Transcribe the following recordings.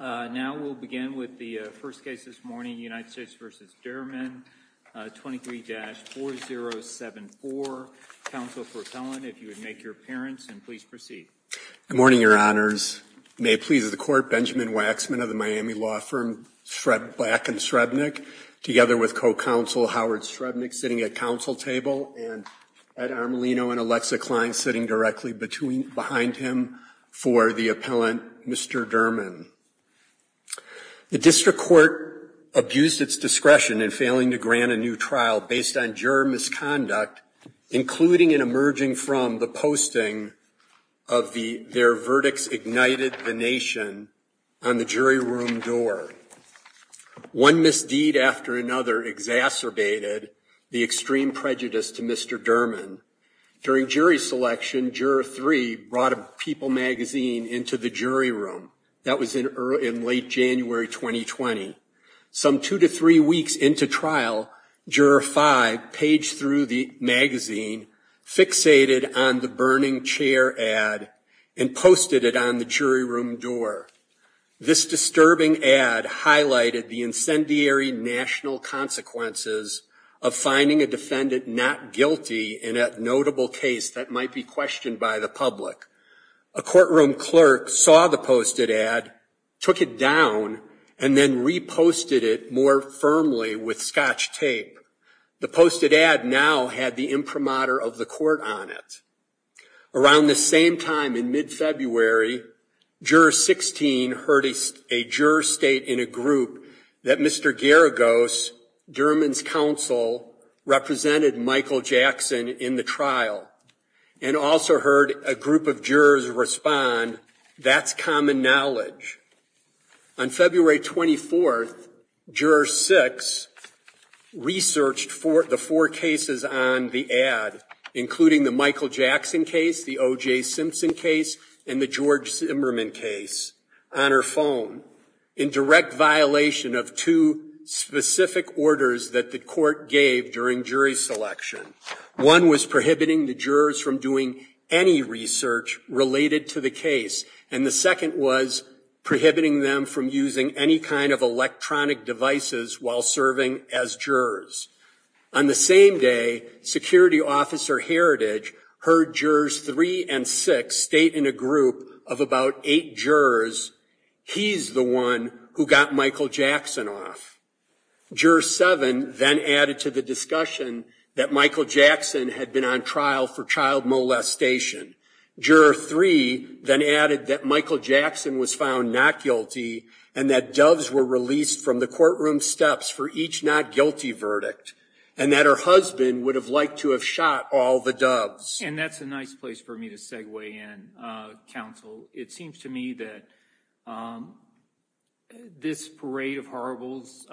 23-4074. Counsel for appellant, if you would make your appearance and please proceed. Good morning, your honors. May it please the court, Benjamin Waxman of the Miami law firm Black & Shrednick, together with co-counsel Howard Shrednick sitting at council table and Ed Armolino and Alexa Klein sitting directly behind him for the appellant, Mr. Dermen. The district court abused its discretion in failing to grant a new trial based on juror misconduct, including and emerging from the posting of their verdicts ignited the nation on the jury room door. One misdeed after another exacerbated the extreme prejudice to Mr. Dermen. During jury selection, Juror 3 brought a People magazine into the jury room. That was in late January 2020. Some two to three weeks into trial, Juror 5 paged through the magazine, fixated on the burning chair ad and posted it on the jury room door. This disturbing ad highlighted the incendiary national consequences of finding a defendant not guilty in a notable case that might be questioned by the public. A courtroom clerk saw the posted ad, took it down, and then reposted it more firmly with scotch tape. The posted ad now had the imprimatur of the court on it. Around the same time in mid-February, Juror 16 heard a juror state in a group that Mr. Garagos, Dermen's counsel, represented Michael Jackson in the trial and also heard a group of jurors. On February 24th, Juror 6 researched the four cases on the ad, including the Michael Jackson case, the O.J. Simpson case, and the George Zimmerman case on her phone in direct violation of two specific orders that the court gave during jury selection. One was prohibiting the jurors from doing any research related to the case, and the second was prohibiting them from using any kind of electronic devices while serving as jurors. On the same day, Security Officer Heritage heard Jurors 3 and 6 state in a group of about eight jurors, he's the one who got Michael Jackson off. Juror 7 then added to the investigation. Juror 3 then added that Michael Jackson was found not guilty and that doves were released from the courtroom steps for each not guilty verdict, and that her husband would have liked to have shot all the doves. And that's a nice place for me to segue in, counsel. It seems to me that this parade of marvels,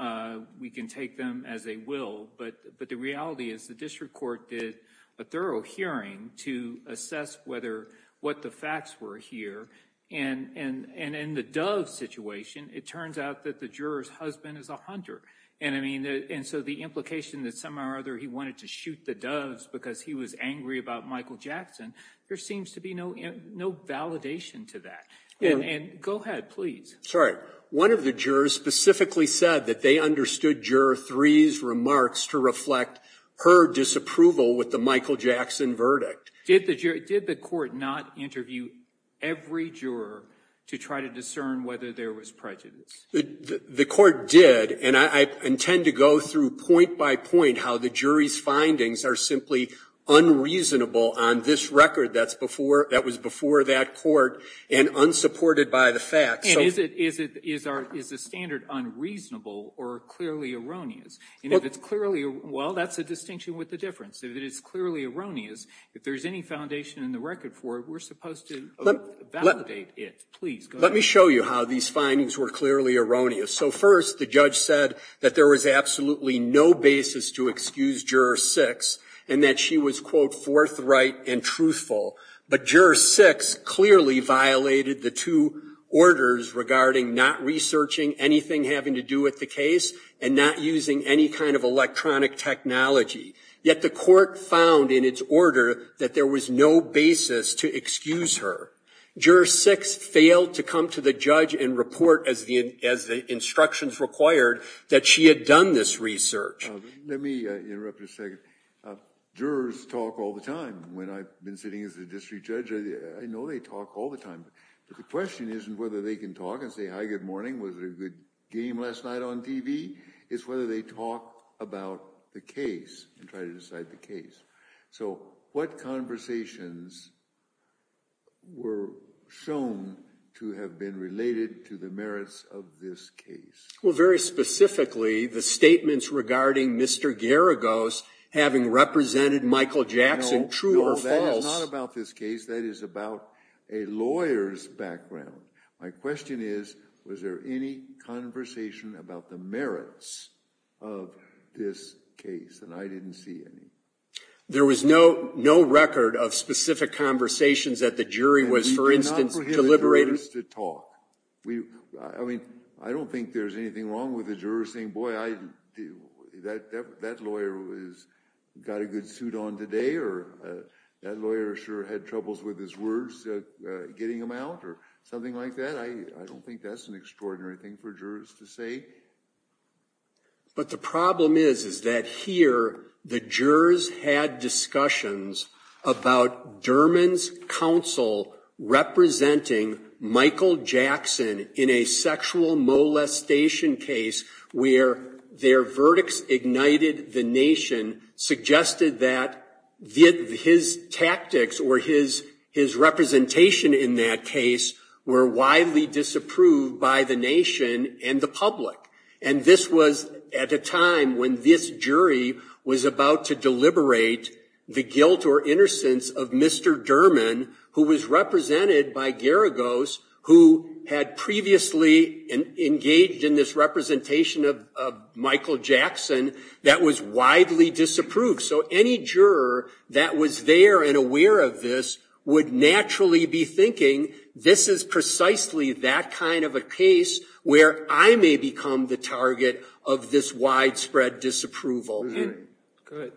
we can take them as they will, but the reality is the district court did a thorough hearing to assess whether what the facts were here, and in the dove situation, it turns out that the juror's husband is a hunter. And I mean, and so the implication that somehow or other he wanted to shoot the doves because he was angry about Michael Jackson, there seems to be no validation to that. And go ahead, please. Sorry. One of the jurors specifically said that they understood Juror 3's remarks to reflect her disapproval with the Michael Jackson verdict. Did the jury, did the court not interview every juror to try to discern whether there was prejudice? The court did, and I intend to go through point by point how the jury's findings are simply unreasonable on this record that's before, that was before that court and unsupported by the facts. And is it, is it, is our, is the standard unreasonable or clearly erroneous? And if it's clearly, well, that's a distinction with the difference. If it is clearly erroneous, if there's any foundation in the record for it, we're supposed to validate it. Please, go ahead. Let me show you how these findings were clearly erroneous. So first, the judge said that there was absolutely no basis to excuse Juror 6 and that she was, quote, forthright and truthful. But Juror 6 clearly violated the two orders regarding not researching anything having to do with the case and not using any kind of electronic technology. Yet the court found in its order that there was no basis to excuse her. Juror 6 failed to come to the judge and report as the, as the instructions required that she had done this research. Let me interrupt for a second. Jurors talk all the time. When I've been sitting as a district judge, I know they talk all the time. But the question isn't whether they can talk and say, hi, good morning, was there a good game last night on TV? It's whether they talk about the case and try to decide the case. So what conversations were shown to have been related to the merits of this case? Well, very specifically, the statements regarding Mr. Garagos having represented Michael Jackson, true or false. No, no, that is not about this case. That is about a lawyer's background. My question is, was there any conversation about the merits of this case? And I didn't see any. There was no record of specific conversations that the jury was, for instance, deliberating. And we do not prohibit jurors to talk. I mean, I don't think there's anything wrong with a juror saying, boy, that lawyer has got a good suit on today, or that lawyer sure had troubles with his words getting them out, or something like that. I don't think that's an extraordinary thing for jurors to say. But the problem is, is that here, the jurors had discussions about Derman's counsel representing Michael Jackson in a sexual molestation case where their verdicts ignited the nation, suggested that his tactics or his representation in that case were widely disapproved by the nation and the public. And this was at a time when this jury was about to deliberate the guilt or innocence of Mr. Derman, who was represented by Garagos, who had previously engaged in this representation of Michael Jackson that was widely disapproved. So any juror that was there and aware of this would naturally be thinking, this is precisely that kind of a case where I may become the target of this widespread disapproval. Go ahead.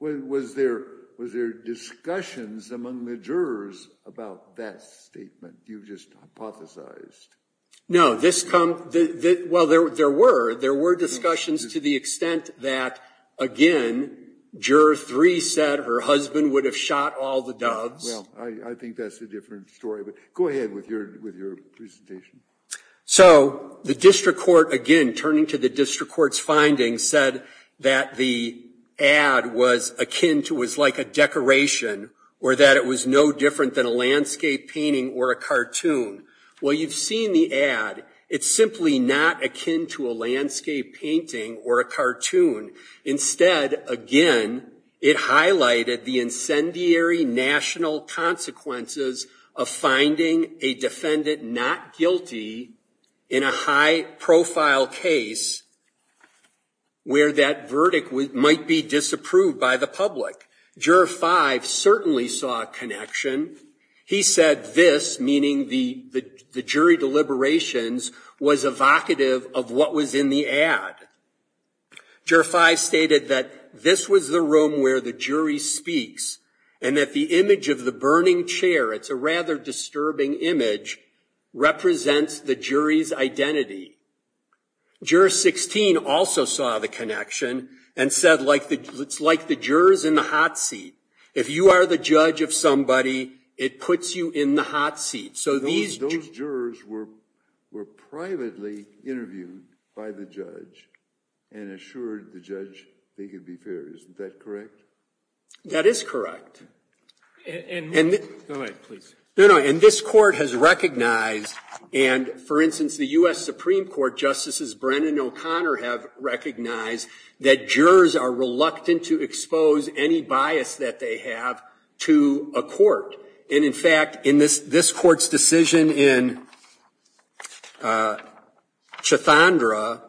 Was there discussions among the jurors about that statement you just hypothesized? No. Well, there were. There were discussions to the extent that, again, Juror 3 said her husband would have shot all the doves. Well, I think that's a different story. But go ahead with your presentation. So the district court, again, turning to the district court's findings, said that the ad was akin to, was like a decoration, or that it was no different than a landscape painting or a cartoon. Well, you've seen the ad. It's simply not akin to a landscape painting or a cartoon. Instead, again, it highlighted the incendiary national consequences of finding a defendant not guilty in a high-profile case where that verdict might be disapproved by the public. Juror 5 certainly saw a connection. He said this, meaning the jury deliberations, was evocative of what was in the ad. Juror 5 stated that this was the room where the jury speaks and that the image of the burning chair, it's a rather disturbing image, represents the jury's identity. Juror 16 also saw the connection and said it's like the jurors in the hot seat. If you are the judge of somebody, it puts you in the hot seat. So these jurors were privately interviewed by the judge and assured the judge they could be fair. Isn't that correct? That is correct. Go ahead, please. No, no, and this court has recognized, and for instance, the U.S. Supreme Court Justices Brennan and O'Connor have recognized that jurors are reluctant to expose any bias that they have to a court. And, in fact, in this court's decision in Chathandra,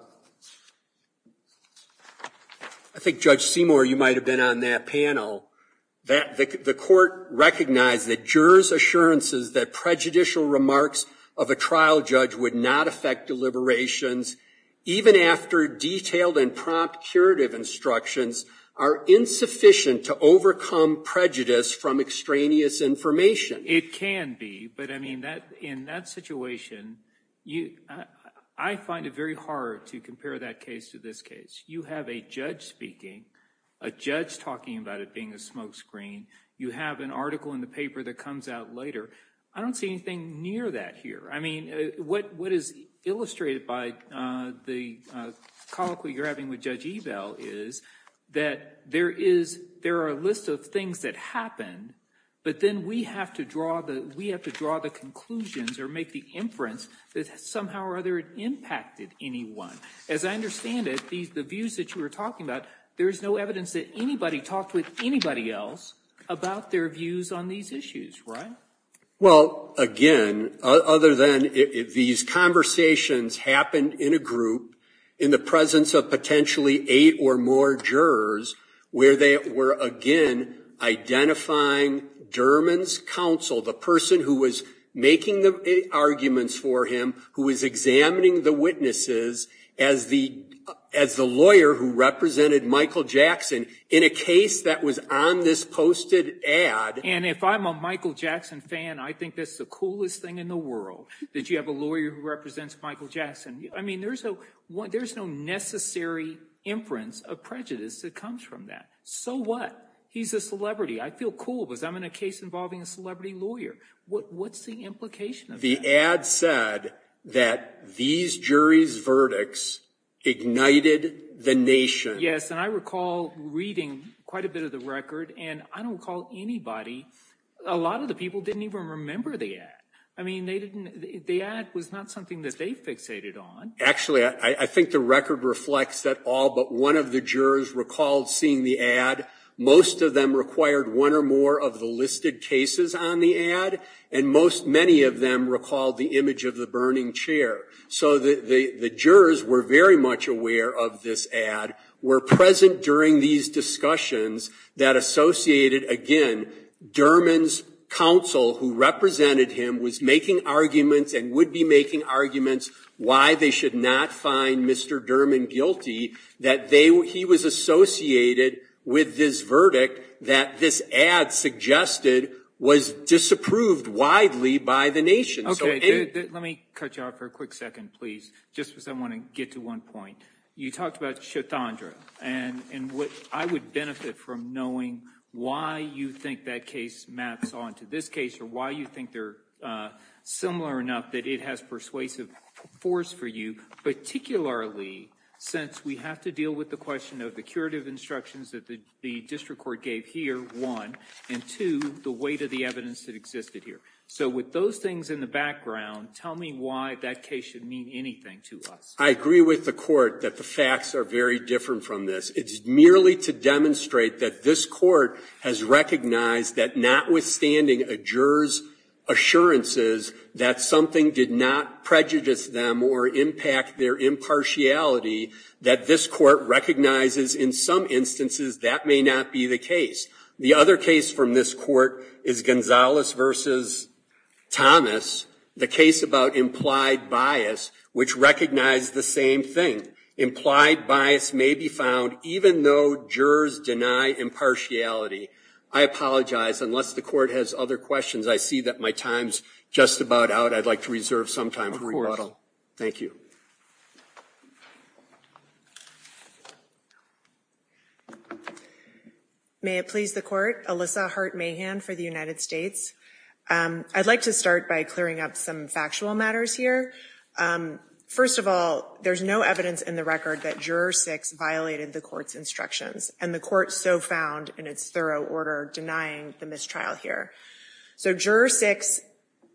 I think, Judge Seymour, you might have been on that panel, the court recognized that jurors' assurances that prejudicial remarks of a trial judge would not affect deliberations even after detailed and prompt curative instructions are insufficient to overcome prejudice from extraneous information. It can be, but, I mean, in that situation, I find it very hard to compare that case to this case. You have a judge speaking, a judge talking about it being a smoke screen. You have an article in the paper that comes out later. I don't see anything near that here. I mean, what is illustrated by the colloquy you're having with Judge Ebel is that there are a list of things that happened, but then we have to draw the conclusions or make the inference that somehow or other it impacted anyone. As I understand it, the views that you were talking about, there's no evidence that anybody talked with anybody else about their views on these issues, right? Well, again, other than these conversations happened in a group in the presence of potentially eight or more jurors where they were, again, identifying Derman's counsel, the person who was making the arguments for him, who was examining the witnesses as the lawyer who represented Michael Jackson in a case that was on this posted ad. And if I'm a Michael Jackson fan, I think that's the coolest thing in the world, that you have a lawyer who represents Michael Jackson. I mean, there's no necessary inference of prejudice that comes from that. So what? He's a celebrity. I feel cool because I'm in a case involving a celebrity lawyer. What's the implication of that? The ad said that these juries' verdicts ignited the nation. Yes, and I recall reading quite a bit of the record. And I don't recall anybody, a lot of the people didn't even remember the ad. I mean, the ad was not something that they fixated on. Actually, I think the record reflects that all but one of the jurors recalled seeing the ad. Most of them required one or more of the listed cases on the ad. And many of them recalled the image of the burning chair. So the jurors were very much aware of this ad, were present during these discussions that associated, again, Dermon's counsel who represented him was making arguments and would be making arguments why they should not find Mr. Dermon guilty, that he was associated with this verdict that this ad suggested was disapproved widely by the nation. Let me cut you off for a quick second, please, just because I want to get to one point. You talked about Chitandra. And I would benefit from knowing why you think that case maps on to this case or why you think they're similar enough that it has persuasive force for you, particularly since we have to deal with the question of the curative instructions that the district court gave here, one, and two, the weight of the evidence that existed here. So with those things in the background, tell me why that case should mean anything to us. I agree with the court that the facts are very different from this. It's merely to demonstrate that this court has recognized that notwithstanding a juror's assurances that something did not prejudice them or impact their impartiality, that this court recognizes in some instances that may not be the case. The other case from this court is Gonzalez v. Thomas, the case about implied bias, which recognized the same thing. Implied bias may be found even though jurors deny impartiality. I apologize. Unless the court has other questions, I see that my time's just about out. I'd like to reserve some time for rebuttal. Thank you. May it please the court. Alyssa Hart Mahan for the United States. I'd like to start by clearing up some factual matters here. First of all, there's no evidence in the record that Juror 6 violated the court's instructions, and the court so found in its thorough order denying the mistrial here. So Juror 6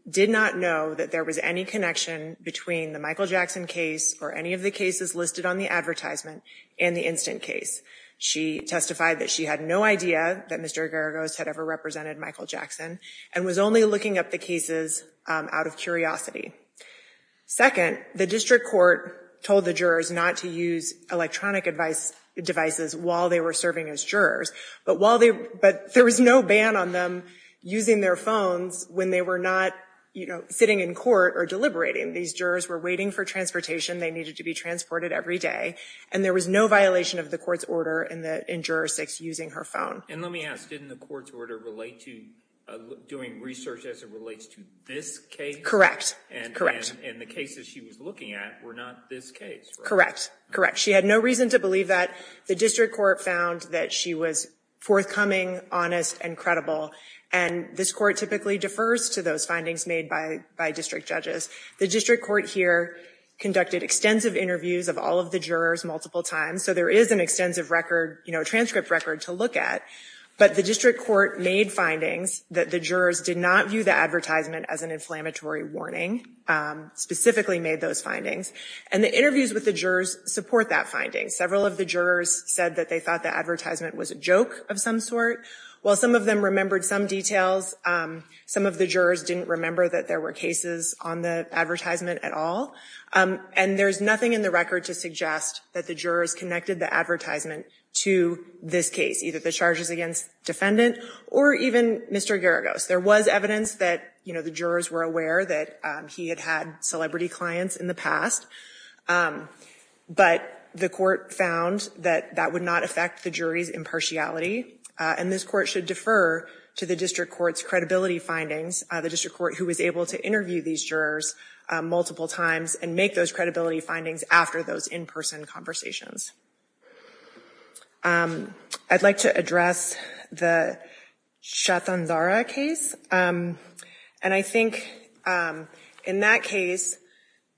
did not know that there was any connection between the Michael Jackson case or any of the cases listed on the advertisement and the instant case. She testified that she had no idea that Mr. Geragos had ever represented Michael Jackson and was only looking up the cases out of curiosity. Second, the district court told the jurors not to use electronic devices while they were serving as jurors, but there was no ban on them using their phones when they were not sitting in court or deliberating. These jurors were waiting for transportation. They needed to be transported every day, and there was no violation of the court's order in Juror 6 using her phone. And let me ask, didn't the court's order relate to doing research as it relates to this case? Correct, correct. And the cases she was looking at were not this case, right? Correct, correct. She had no reason to believe that. The district court found that she was forthcoming, honest, and credible, and this court typically defers to those findings made by district judges. The district court here conducted extensive interviews of all of the jurors multiple times, so there is an extensive record, you know, transcript record to look at, but the district court made findings that the jurors did not view the advertisement as an inflammatory warning, specifically made those findings. And the interviews with the jurors support that finding. Several of the jurors said that they thought the advertisement was a joke of some sort. While some of them remembered some details, some of the jurors didn't remember that there were cases on the advertisement at all. And there's nothing in the record to suggest that the jurors connected the advertisement to this case, either the charges against defendant or even Mr. Geragos. There was evidence that, you know, the jurors were aware that he had had celebrity clients in the past, but the court found that that would not affect the jury's impartiality, and this court should defer to the district court's credibility findings, the district court who was able to interview these jurors multiple times and make those credibility findings after those in-person conversations. I'd like to address the Shatanzara case, and I think in that case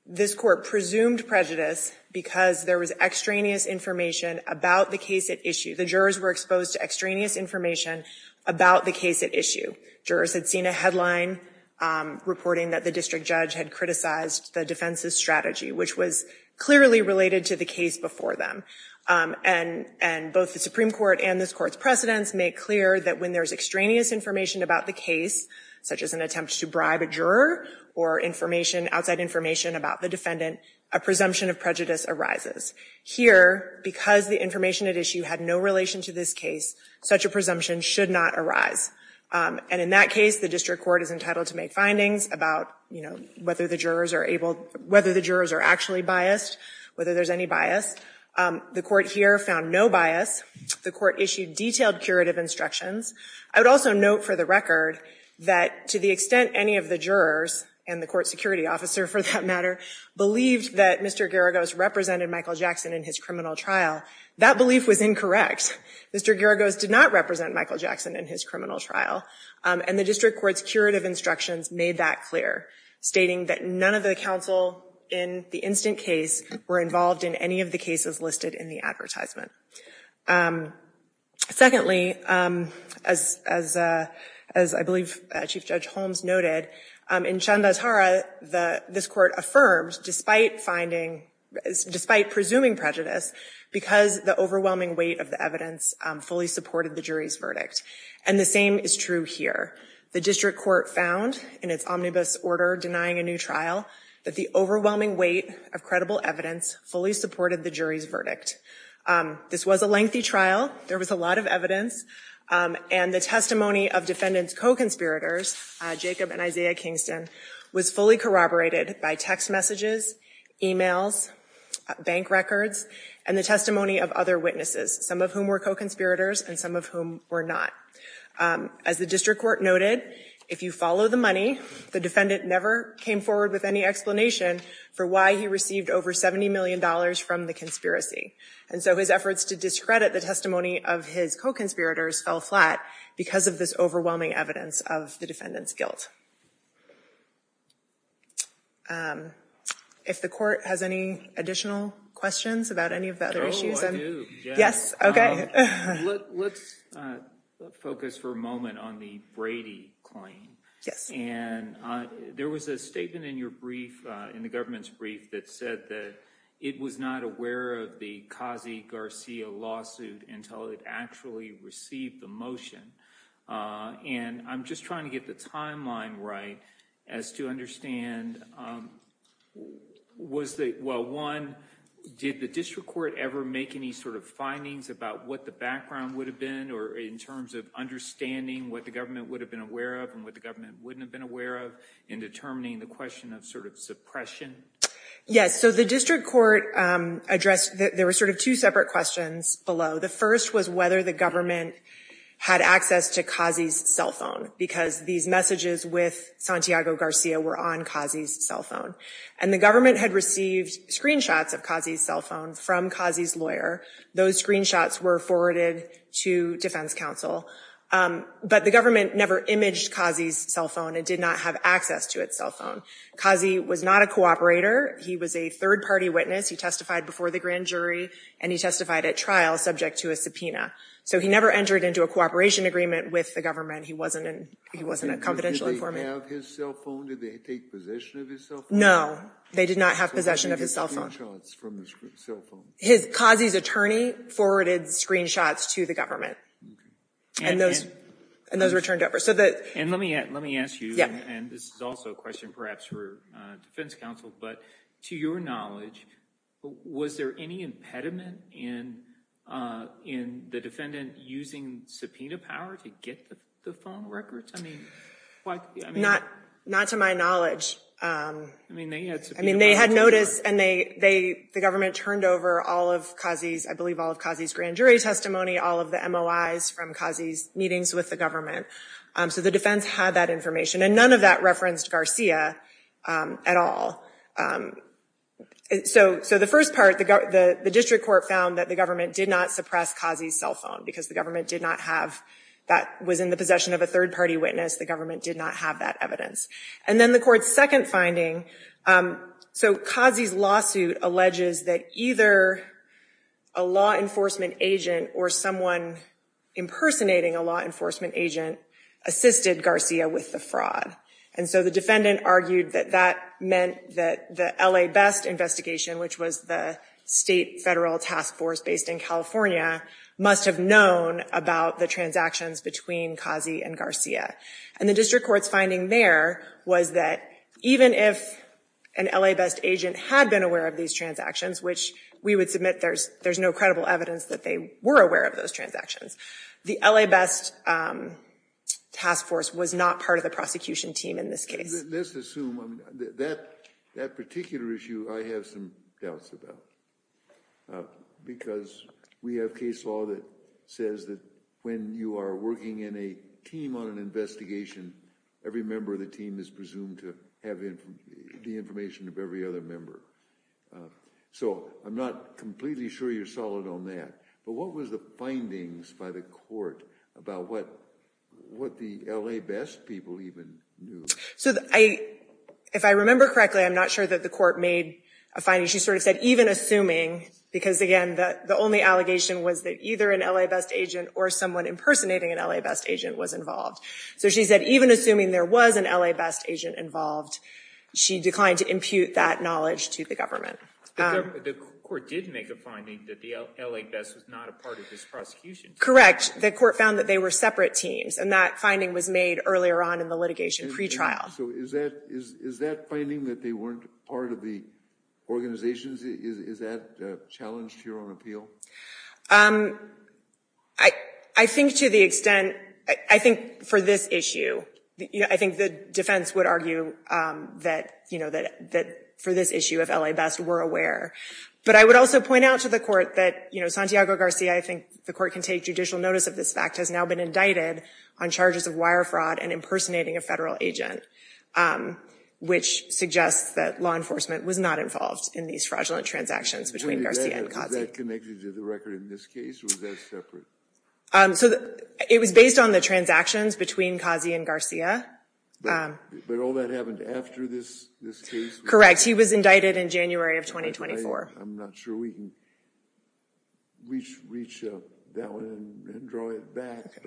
this court presumed prejudice because there was extraneous information about the case at issue. The jurors were exposed to extraneous information about the case at issue. Jurors had seen a headline reporting that the district judge had criticized the defense's strategy, which was clearly related to the case before them. And both the Supreme Court and this court's precedents make clear that when there's extraneous information about the case, such as an attempt to bribe a juror or outside information about the defendant, a presumption of prejudice arises. Here, because the information at issue had no relation to this case, such a presumption should not arise. And in that case, the district court is entitled to make findings about whether the jurors are actually biased, whether there's any bias. The court here found no bias. The court issued detailed curative instructions. I would also note for the record that to the extent any of the jurors, and the court security officer for that matter, believed that Mr. Geragos represented Michael Jackson in his criminal trial, that belief was incorrect. Mr. Geragos did not represent Michael Jackson in his criminal trial, and the district court's curative instructions made that clear, stating that none of the counsel in the instant case were involved in any of the cases listed in the advertisement. Secondly, as I believe Chief Judge Holmes noted, in Chandas Hara, this court affirmed, despite presuming prejudice, because the overwhelming weight of the evidence fully supported the jury's verdict. And the same is true here. The district court found, in its omnibus order denying a new trial, that the overwhelming weight of credible evidence fully supported the jury's verdict. This was a lengthy trial. There was a lot of evidence. And the testimony of defendants' co-conspirators, Jacob and Isaiah Kingston, was fully corroborated by text messages, emails, bank records, and the testimony of other witnesses, some of whom were co-conspirators and some of whom were not. As the district court noted, if you follow the money, the defendant never came forward with any explanation for why he received over $70 million from the conspiracy. And so his efforts to discredit the testimony of his co-conspirators fell flat because of this overwhelming evidence of the defendant's guilt. If the court has any additional questions about any of the other issues? Oh, I do. Yes? Okay. Let's focus for a moment on the Brady claim. And there was a statement in your brief, in the government's brief, that said that it was not aware of the Kazi Garcia lawsuit until it actually received the motion. And I'm just trying to get the timeline right as to understand, well, one, did the district court ever make any sort of findings about what the background would have been or in terms of understanding what the government would have been aware of and what the government wouldn't have been aware of in determining the question of sort of suppression? Yes, so the district court addressed, there were sort of two separate questions below. The first was whether the government had access to Kazi's cell phone because these messages with Santiago Garcia were on Kazi's cell phone. And the government had received screenshots of Kazi's cell phone from Kazi's lawyer. Those screenshots were forwarded to defense counsel. But the government never imaged Kazi's cell phone. It did not have access to its cell phone. Kazi was not a cooperator. He was a third-party witness. He testified before the grand jury, and he testified at trial subject to a subpoena. So he never entered into a cooperation agreement with the government. He wasn't a confidential informant. Did they have his cell phone? Did they take possession of his cell phone? No, they did not have possession of his cell phone. So they did screenshots from his cell phone? Kazi's attorney forwarded screenshots to the government, and those were turned over. And let me ask you, and this is also a question perhaps for defense counsel, but to your knowledge, was there any impediment in the defendant using subpoena power to get the phone records? Not to my knowledge. I mean, they had notice, and the government turned over all of Kazi's, I believe all of Kazi's grand jury testimony, all of the MOIs from Kazi's meetings with the government. So the defense had that information, and none of that referenced Garcia at all. So the first part, the district court found that the government did not suppress Kazi's cell phone because the government did not have that was in the possession of a third-party witness. The government did not have that evidence. And then the court's second finding, so Kazi's lawsuit alleges that either a law enforcement agent or someone impersonating a law enforcement agent assisted Garcia with the fraud. And so the defendant argued that that meant that the L.A. Best investigation, which was the state federal task force based in California, must have known about the transactions between Kazi and Garcia. And the district court's finding there was that even if an L.A. Best agent had been aware of these transactions, which we would submit there's no credible evidence that they were aware of those transactions, the L.A. Best task force was not part of the prosecution team in this case. Let's assume that that particular issue I have some doubts about, because we have case law that says that when you are working in a team on an investigation, every member of the team is presumed to have the information of every other member. So I'm not completely sure you're solid on that. But what was the findings by the court about what the L.A. Best people even knew? So if I remember correctly, I'm not sure that the court made a finding. She sort of said even assuming, because, again, the only allegation was that either an L.A. Best agent or someone impersonating an L.A. Best agent was involved. So she said even assuming there was an L.A. Best agent involved, she declined to impute that knowledge to the government. The court did make a finding that the L.A. Best was not a part of this prosecution team. Correct. The court found that they were separate teams, and that finding was made earlier on in the litigation pretrial. So is that finding that they weren't part of the organization, is that challenged here on appeal? I think to the extent, I think for this issue, I think the defense would argue that for this issue, if L.A. Best were aware. But I would also point out to the court that, you know, Santiago Garcia, I think the court can take judicial notice of this fact, has now been indicted on charges of wire fraud and impersonating a federal agent, which suggests that law enforcement was not involved in these fraudulent transactions between Garcia and Garcia. Is that connected to the record in this case, or was that separate? So it was based on the transactions between Kazi and Garcia. But all that happened after this case? Correct. He was indicted in January of 2024. I'm not sure we can reach that one and draw it back.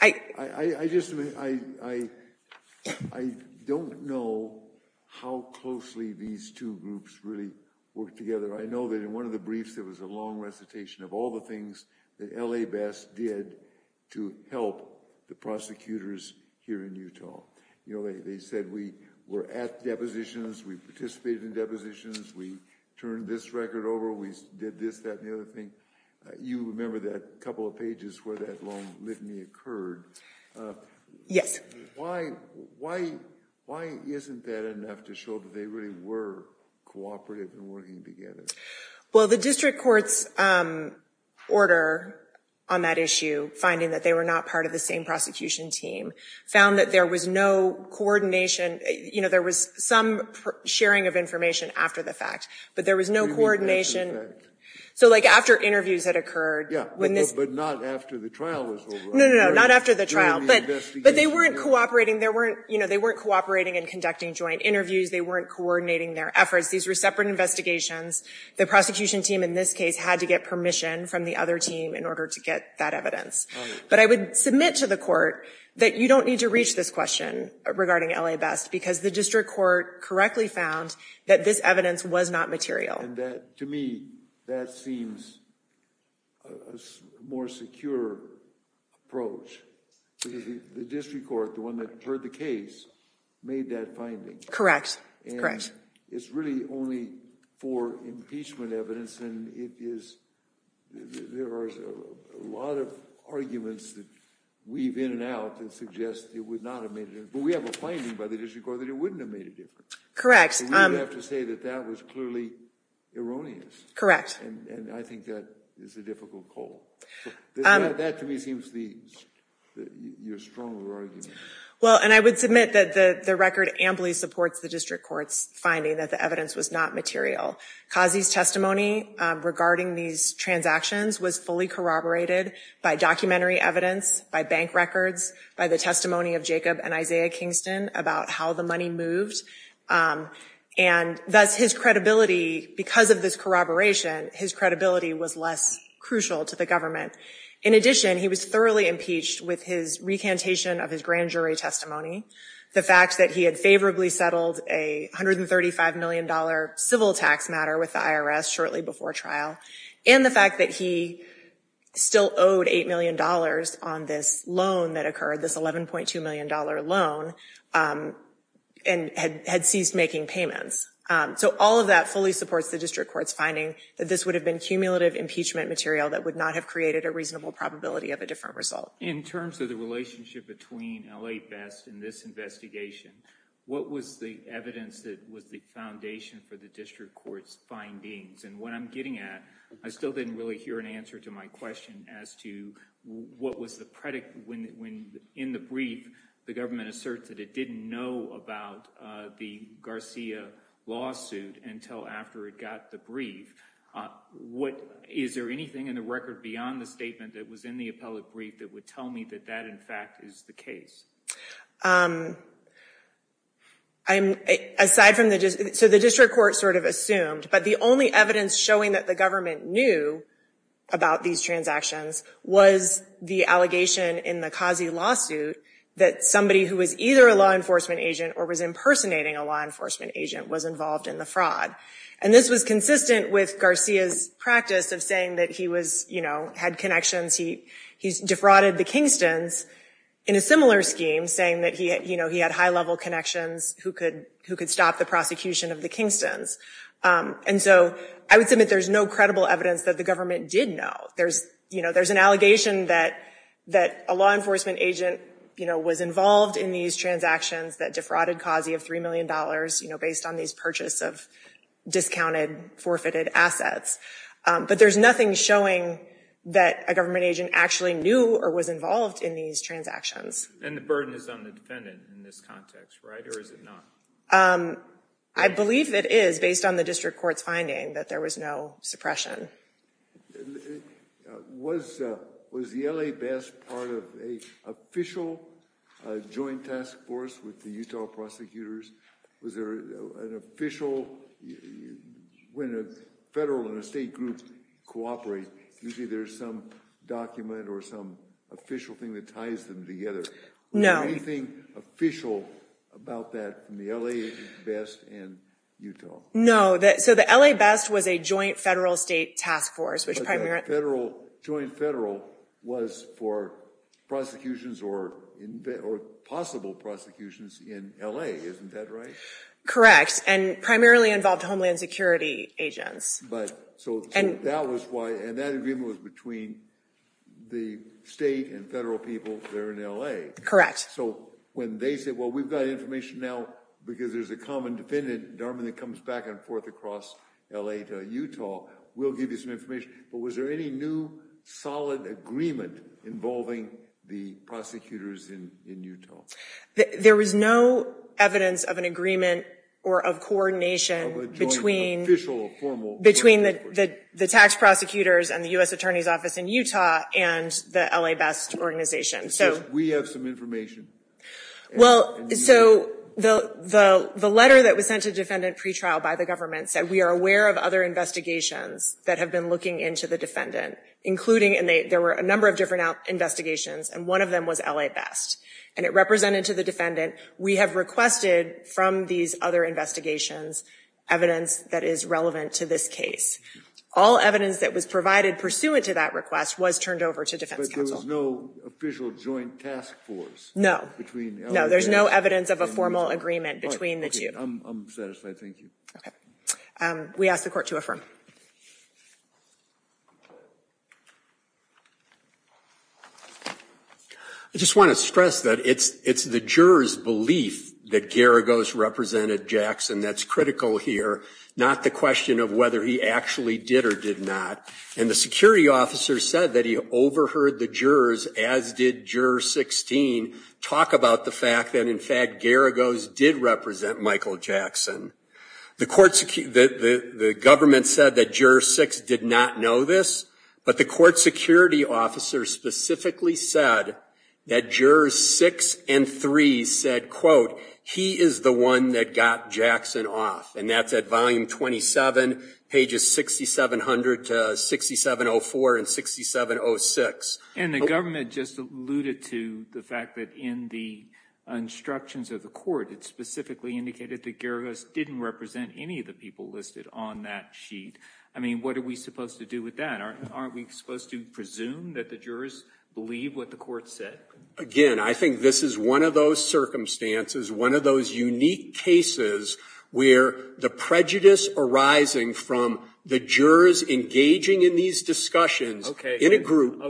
I just, I don't know how closely these two groups really worked together. I know that in one of the briefs there was a long recitation of all the things that L.A. Best did to help the prosecutors here in Utah. You know, they said we were at depositions, we participated in depositions, we turned this record over, we did this, that, and the other thing. You remember that couple of pages where that long litany occurred. Yes. Why isn't that enough to show that they really were cooperative and working together? Well, the district court's order on that issue, finding that they were not part of the same prosecution team, found that there was no coordination. You know, there was some sharing of information after the fact, but there was no coordination. So like after interviews had occurred. Yeah, but not after the trial was over. No, no, no, not after the trial. But they weren't cooperating. They weren't cooperating in conducting joint interviews. They weren't coordinating their efforts. These were separate investigations. The prosecution team in this case had to get permission from the other team in order to get that evidence. But I would submit to the court that you don't need to reach this question regarding L.A. Best because the district court correctly found that this evidence was not material. And to me, that seems a more secure approach. Because the district court, the one that heard the case, made that finding. Correct. And it's really only for impeachment evidence. And there are a lot of arguments that weave in and out that suggest it would not have made a difference. But we have a finding by the district court that it wouldn't have made a difference. Correct. So we would have to say that that was clearly erroneous. Correct. And I think that is a difficult call. That, to me, seems your stronger argument. Well, and I would submit that the record amply supports the district court's finding that the evidence was not material. Kazi's testimony regarding these transactions was fully corroborated by documentary evidence, by bank records, by the testimony of Jacob and Isaiah Kingston about how the money moved. And thus his credibility, because of this corroboration, his credibility was less crucial to the government. In addition, he was thoroughly impeached with his recantation of his grand jury testimony, the fact that he had favorably settled a $135 million civil tax matter with the IRS shortly before trial, and the fact that he still owed $8 million on this loan that occurred, this $11.2 million loan, and had ceased making payments. So all of that fully supports the district court's finding that this would have been cumulative impeachment material that would not have created a reasonable probability of a different result. In terms of the relationship between L.A. Best and this investigation, what was the evidence that was the foundation for the district court's findings? And what I'm getting at, I still didn't really hear an answer to my question as to what was the predicate when, in the brief, the government asserts that it didn't know about the Garcia lawsuit until after it got the brief. Is there anything in the record beyond the statement that was in the appellate brief that would tell me that that, in fact, is the case? So the district court sort of assumed, but the only evidence showing that the government knew about these transactions was the allegation in the Kazi lawsuit that somebody who was either a law enforcement agent or was impersonating a law enforcement agent was involved in the fraud. And this was consistent with Garcia's practice of saying that he had connections, he defrauded the Kingstons in a similar scheme, saying that he had high-level connections who could stop the prosecution of the Kingstons. And so I would submit there's no credible evidence that the government did know. There's an allegation that a law enforcement agent was involved in these transactions that defrauded Kazi of $3 million based on these purchases of discounted, forfeited assets. But there's nothing showing that a government agent actually knew or was involved in these transactions. And the burden is on the defendant in this context, right, or is it not? I believe it is based on the district court's finding that there was no suppression. Was the L.A. best part of an official joint task force with the Utah prosecutors? Was there an official—when a federal and a state group cooperate, usually there's some document or some official thing that ties them together. No. Was there anything official about that in the L.A. best and Utah? No. So the L.A. best was a joint federal-state task force. But that joint federal was for prosecutions or possible prosecutions in L.A., isn't that right? Correct, and primarily involved Homeland Security agents. So that was why—and that agreement was between the state and federal people there in L.A. Correct. So when they said, well, we've got information now because there's a common defendant, Darman, that comes back and forth across L.A. to Utah, we'll give you some information. But was there any new solid agreement involving the prosecutors in Utah? There was no evidence of an agreement or of coordination between the tax prosecutors and the U.S. Attorney's Office in Utah and the L.A. best organization. We have some information. Well, so the letter that was sent to defendant pretrial by the government said, we are aware of other investigations that have been looking into the defendant, including— and there were a number of different investigations, and one of them was L.A. best. And it represented to the defendant, we have requested from these other investigations evidence that is relevant to this case. All evidence that was provided pursuant to that request was turned over to defense counsel. But there was no official joint task force? No. No, there's no evidence of a formal agreement between the two. I'm satisfied. Thank you. We ask the Court to affirm. I just want to stress that it's the juror's belief that Garagos represented Jackson that's critical here, not the question of whether he actually did or did not. And the security officer said that he overheard the jurors, as did Juror 16, talk about the fact that, in fact, Garagos did represent Michael Jackson. The government said that Juror 6 did not know this, but the court security officer specifically said that Jurors 6 and 3 said, quote, he is the one that got Jackson off. And that's at volume 27, pages 6700 to 6704 and 6706. And the government just alluded to the fact that in the instructions of the court, it specifically indicated that Garagos didn't represent any of the people listed on that sheet. I mean, what are we supposed to do with that? Aren't we supposed to presume that the jurors believe what the court said? Again, I think this is one of those circumstances, one of those unique cases where the prejudice arising from the jurors engaging in these discussions in a group.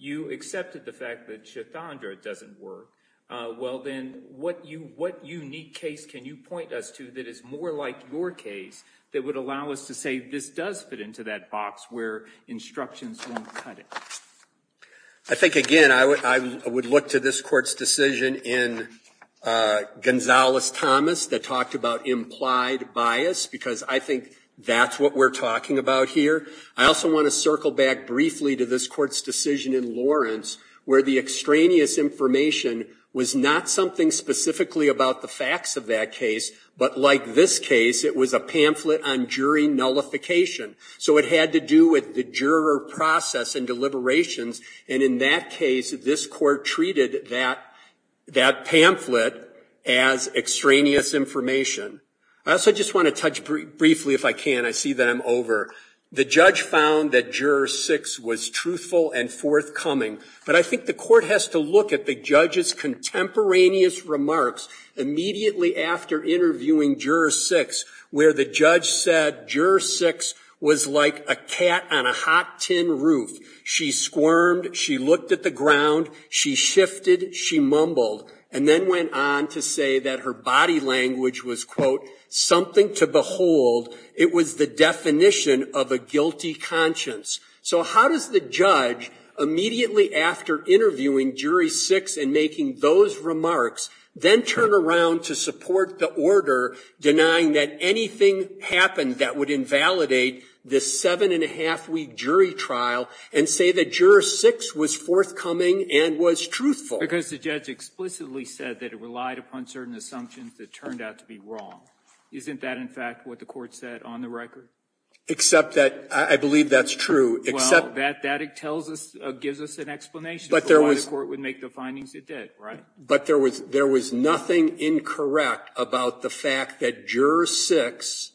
You accepted the fact that Chathandra doesn't work. Well, then, what unique case can you point us to that is more like your case that would allow us to say this does fit into that box where instructions won't cut it? I think, again, I would look to this court's decision in Gonzales-Thomas that talked about implied bias because I think that's what we're talking about here. I also want to circle back briefly to this court's decision in Lawrence where the extraneous information was not something specifically about the facts of that case, but like this case, it was a pamphlet on jury nullification. So it had to do with the juror process and deliberations, and in that case, this court treated that pamphlet as extraneous information. I also just want to touch briefly, if I can. I see that I'm over. The judge found that Juror 6 was truthful and forthcoming, but I think the court has to look at the judge's contemporaneous remarks immediately after interviewing Juror 6 where the judge said Juror 6 was like a cat on a hot tin roof. She squirmed. She looked at the ground. She shifted. She mumbled and then went on to say that her body language was, quote, something to behold. It was the definition of a guilty conscience. So how does the judge immediately after interviewing Jury 6 and making those remarks, then turn around to support the order denying that anything happened that would invalidate this seven-and-a-half-week jury trial and say that Juror 6 was forthcoming and was truthful? Because the judge explicitly said that it relied upon certain assumptions that turned out to be wrong. Isn't that, in fact, what the court said on the record? Except that I believe that's true. Well, that tells us, gives us an explanation for why the court would make the findings it did, right? But there was nothing incorrect about the fact that Juror 6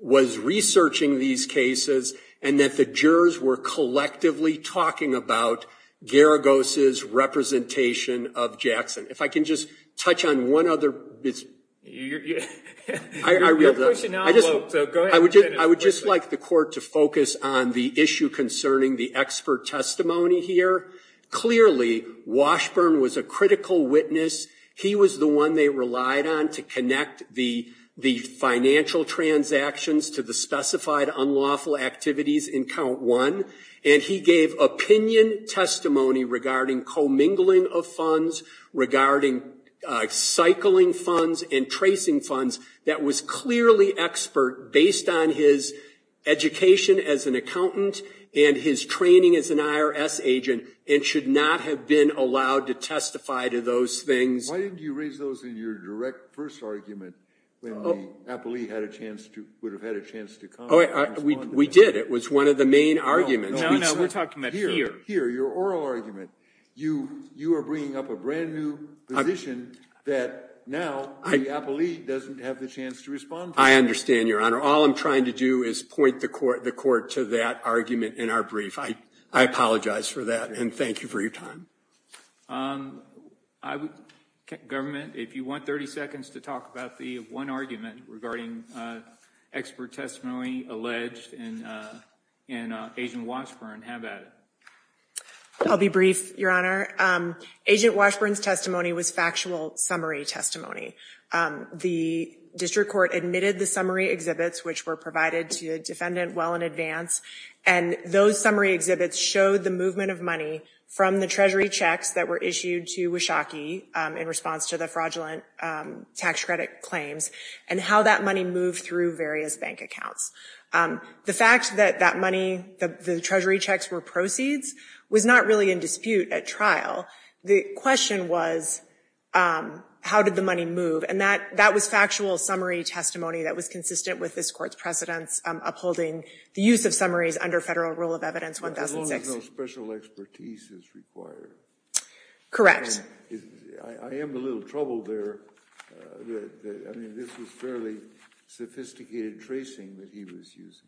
was researching these cases and that the jurors were collectively talking about Garagos' representation of Jackson. If I can just touch on one other bit. I would just like the court to focus on the issue concerning the expert testimony here. Clearly, Washburn was a critical witness. He was the one they relied on to connect the financial transactions to the specified unlawful activities in Count 1. And he gave opinion testimony regarding commingling of funds, regarding cycling funds and tracing funds that was clearly expert based on his education as an attorney. And should not have been allowed to testify to those things. Why didn't you raise those in your direct first argument when the appellee would have had a chance to comment? We did. It was one of the main arguments. No, we're talking about here. Here, your oral argument. You are bringing up a brand new position that now the appellee doesn't have the chance to respond to. I understand, Your Honor. All I'm trying to do is point the court to that argument in our brief. I apologize for that and thank you for your time. Government, if you want 30 seconds to talk about the one argument regarding expert testimony alleged in Agent Washburn, have at it. I'll be brief, Your Honor. Agent Washburn's testimony was factual summary testimony. The district court admitted the summary exhibits which were provided to the defendant well in advance. And those summary exhibits showed the movement of money from the treasury checks that were issued to Washakie in response to the fraudulent tax credit claims and how that money moved through various bank accounts. The fact that that money, the treasury checks were proceeds was not really in dispute at trial. The question was how did the money move? And that was factual summary testimony that was consistent with this court's precedents upholding the use of summaries under Federal Rule of Evidence 1006. As long as no special expertise is required. Correct. I am a little troubled there. I mean, this was fairly sophisticated tracing that he was using.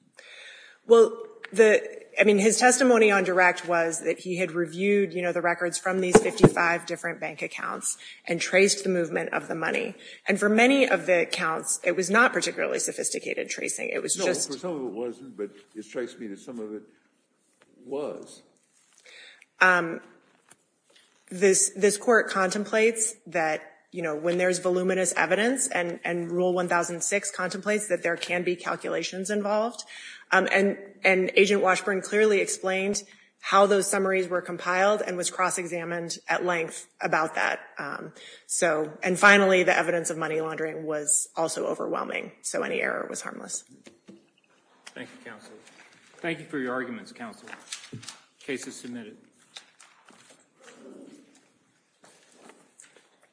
Well, I mean, his testimony on direct was that he had reviewed, you know, the records from these 55 different bank accounts and traced the movement of the money. And for many of the accounts, it was not particularly sophisticated tracing. It was just. No, for some of it wasn't, but it strikes me that some of it was. This Court contemplates that, you know, when there is voluminous evidence and Rule 1006 contemplates that there can be calculations involved. And Agent Washburn clearly explained how those summaries were compiled and was cross-examined at length about that. And finally, the evidence of money laundering was also overwhelming. So any error was harmless. Thank you, counsel. Thank you for your arguments, counsel. Case is submitted.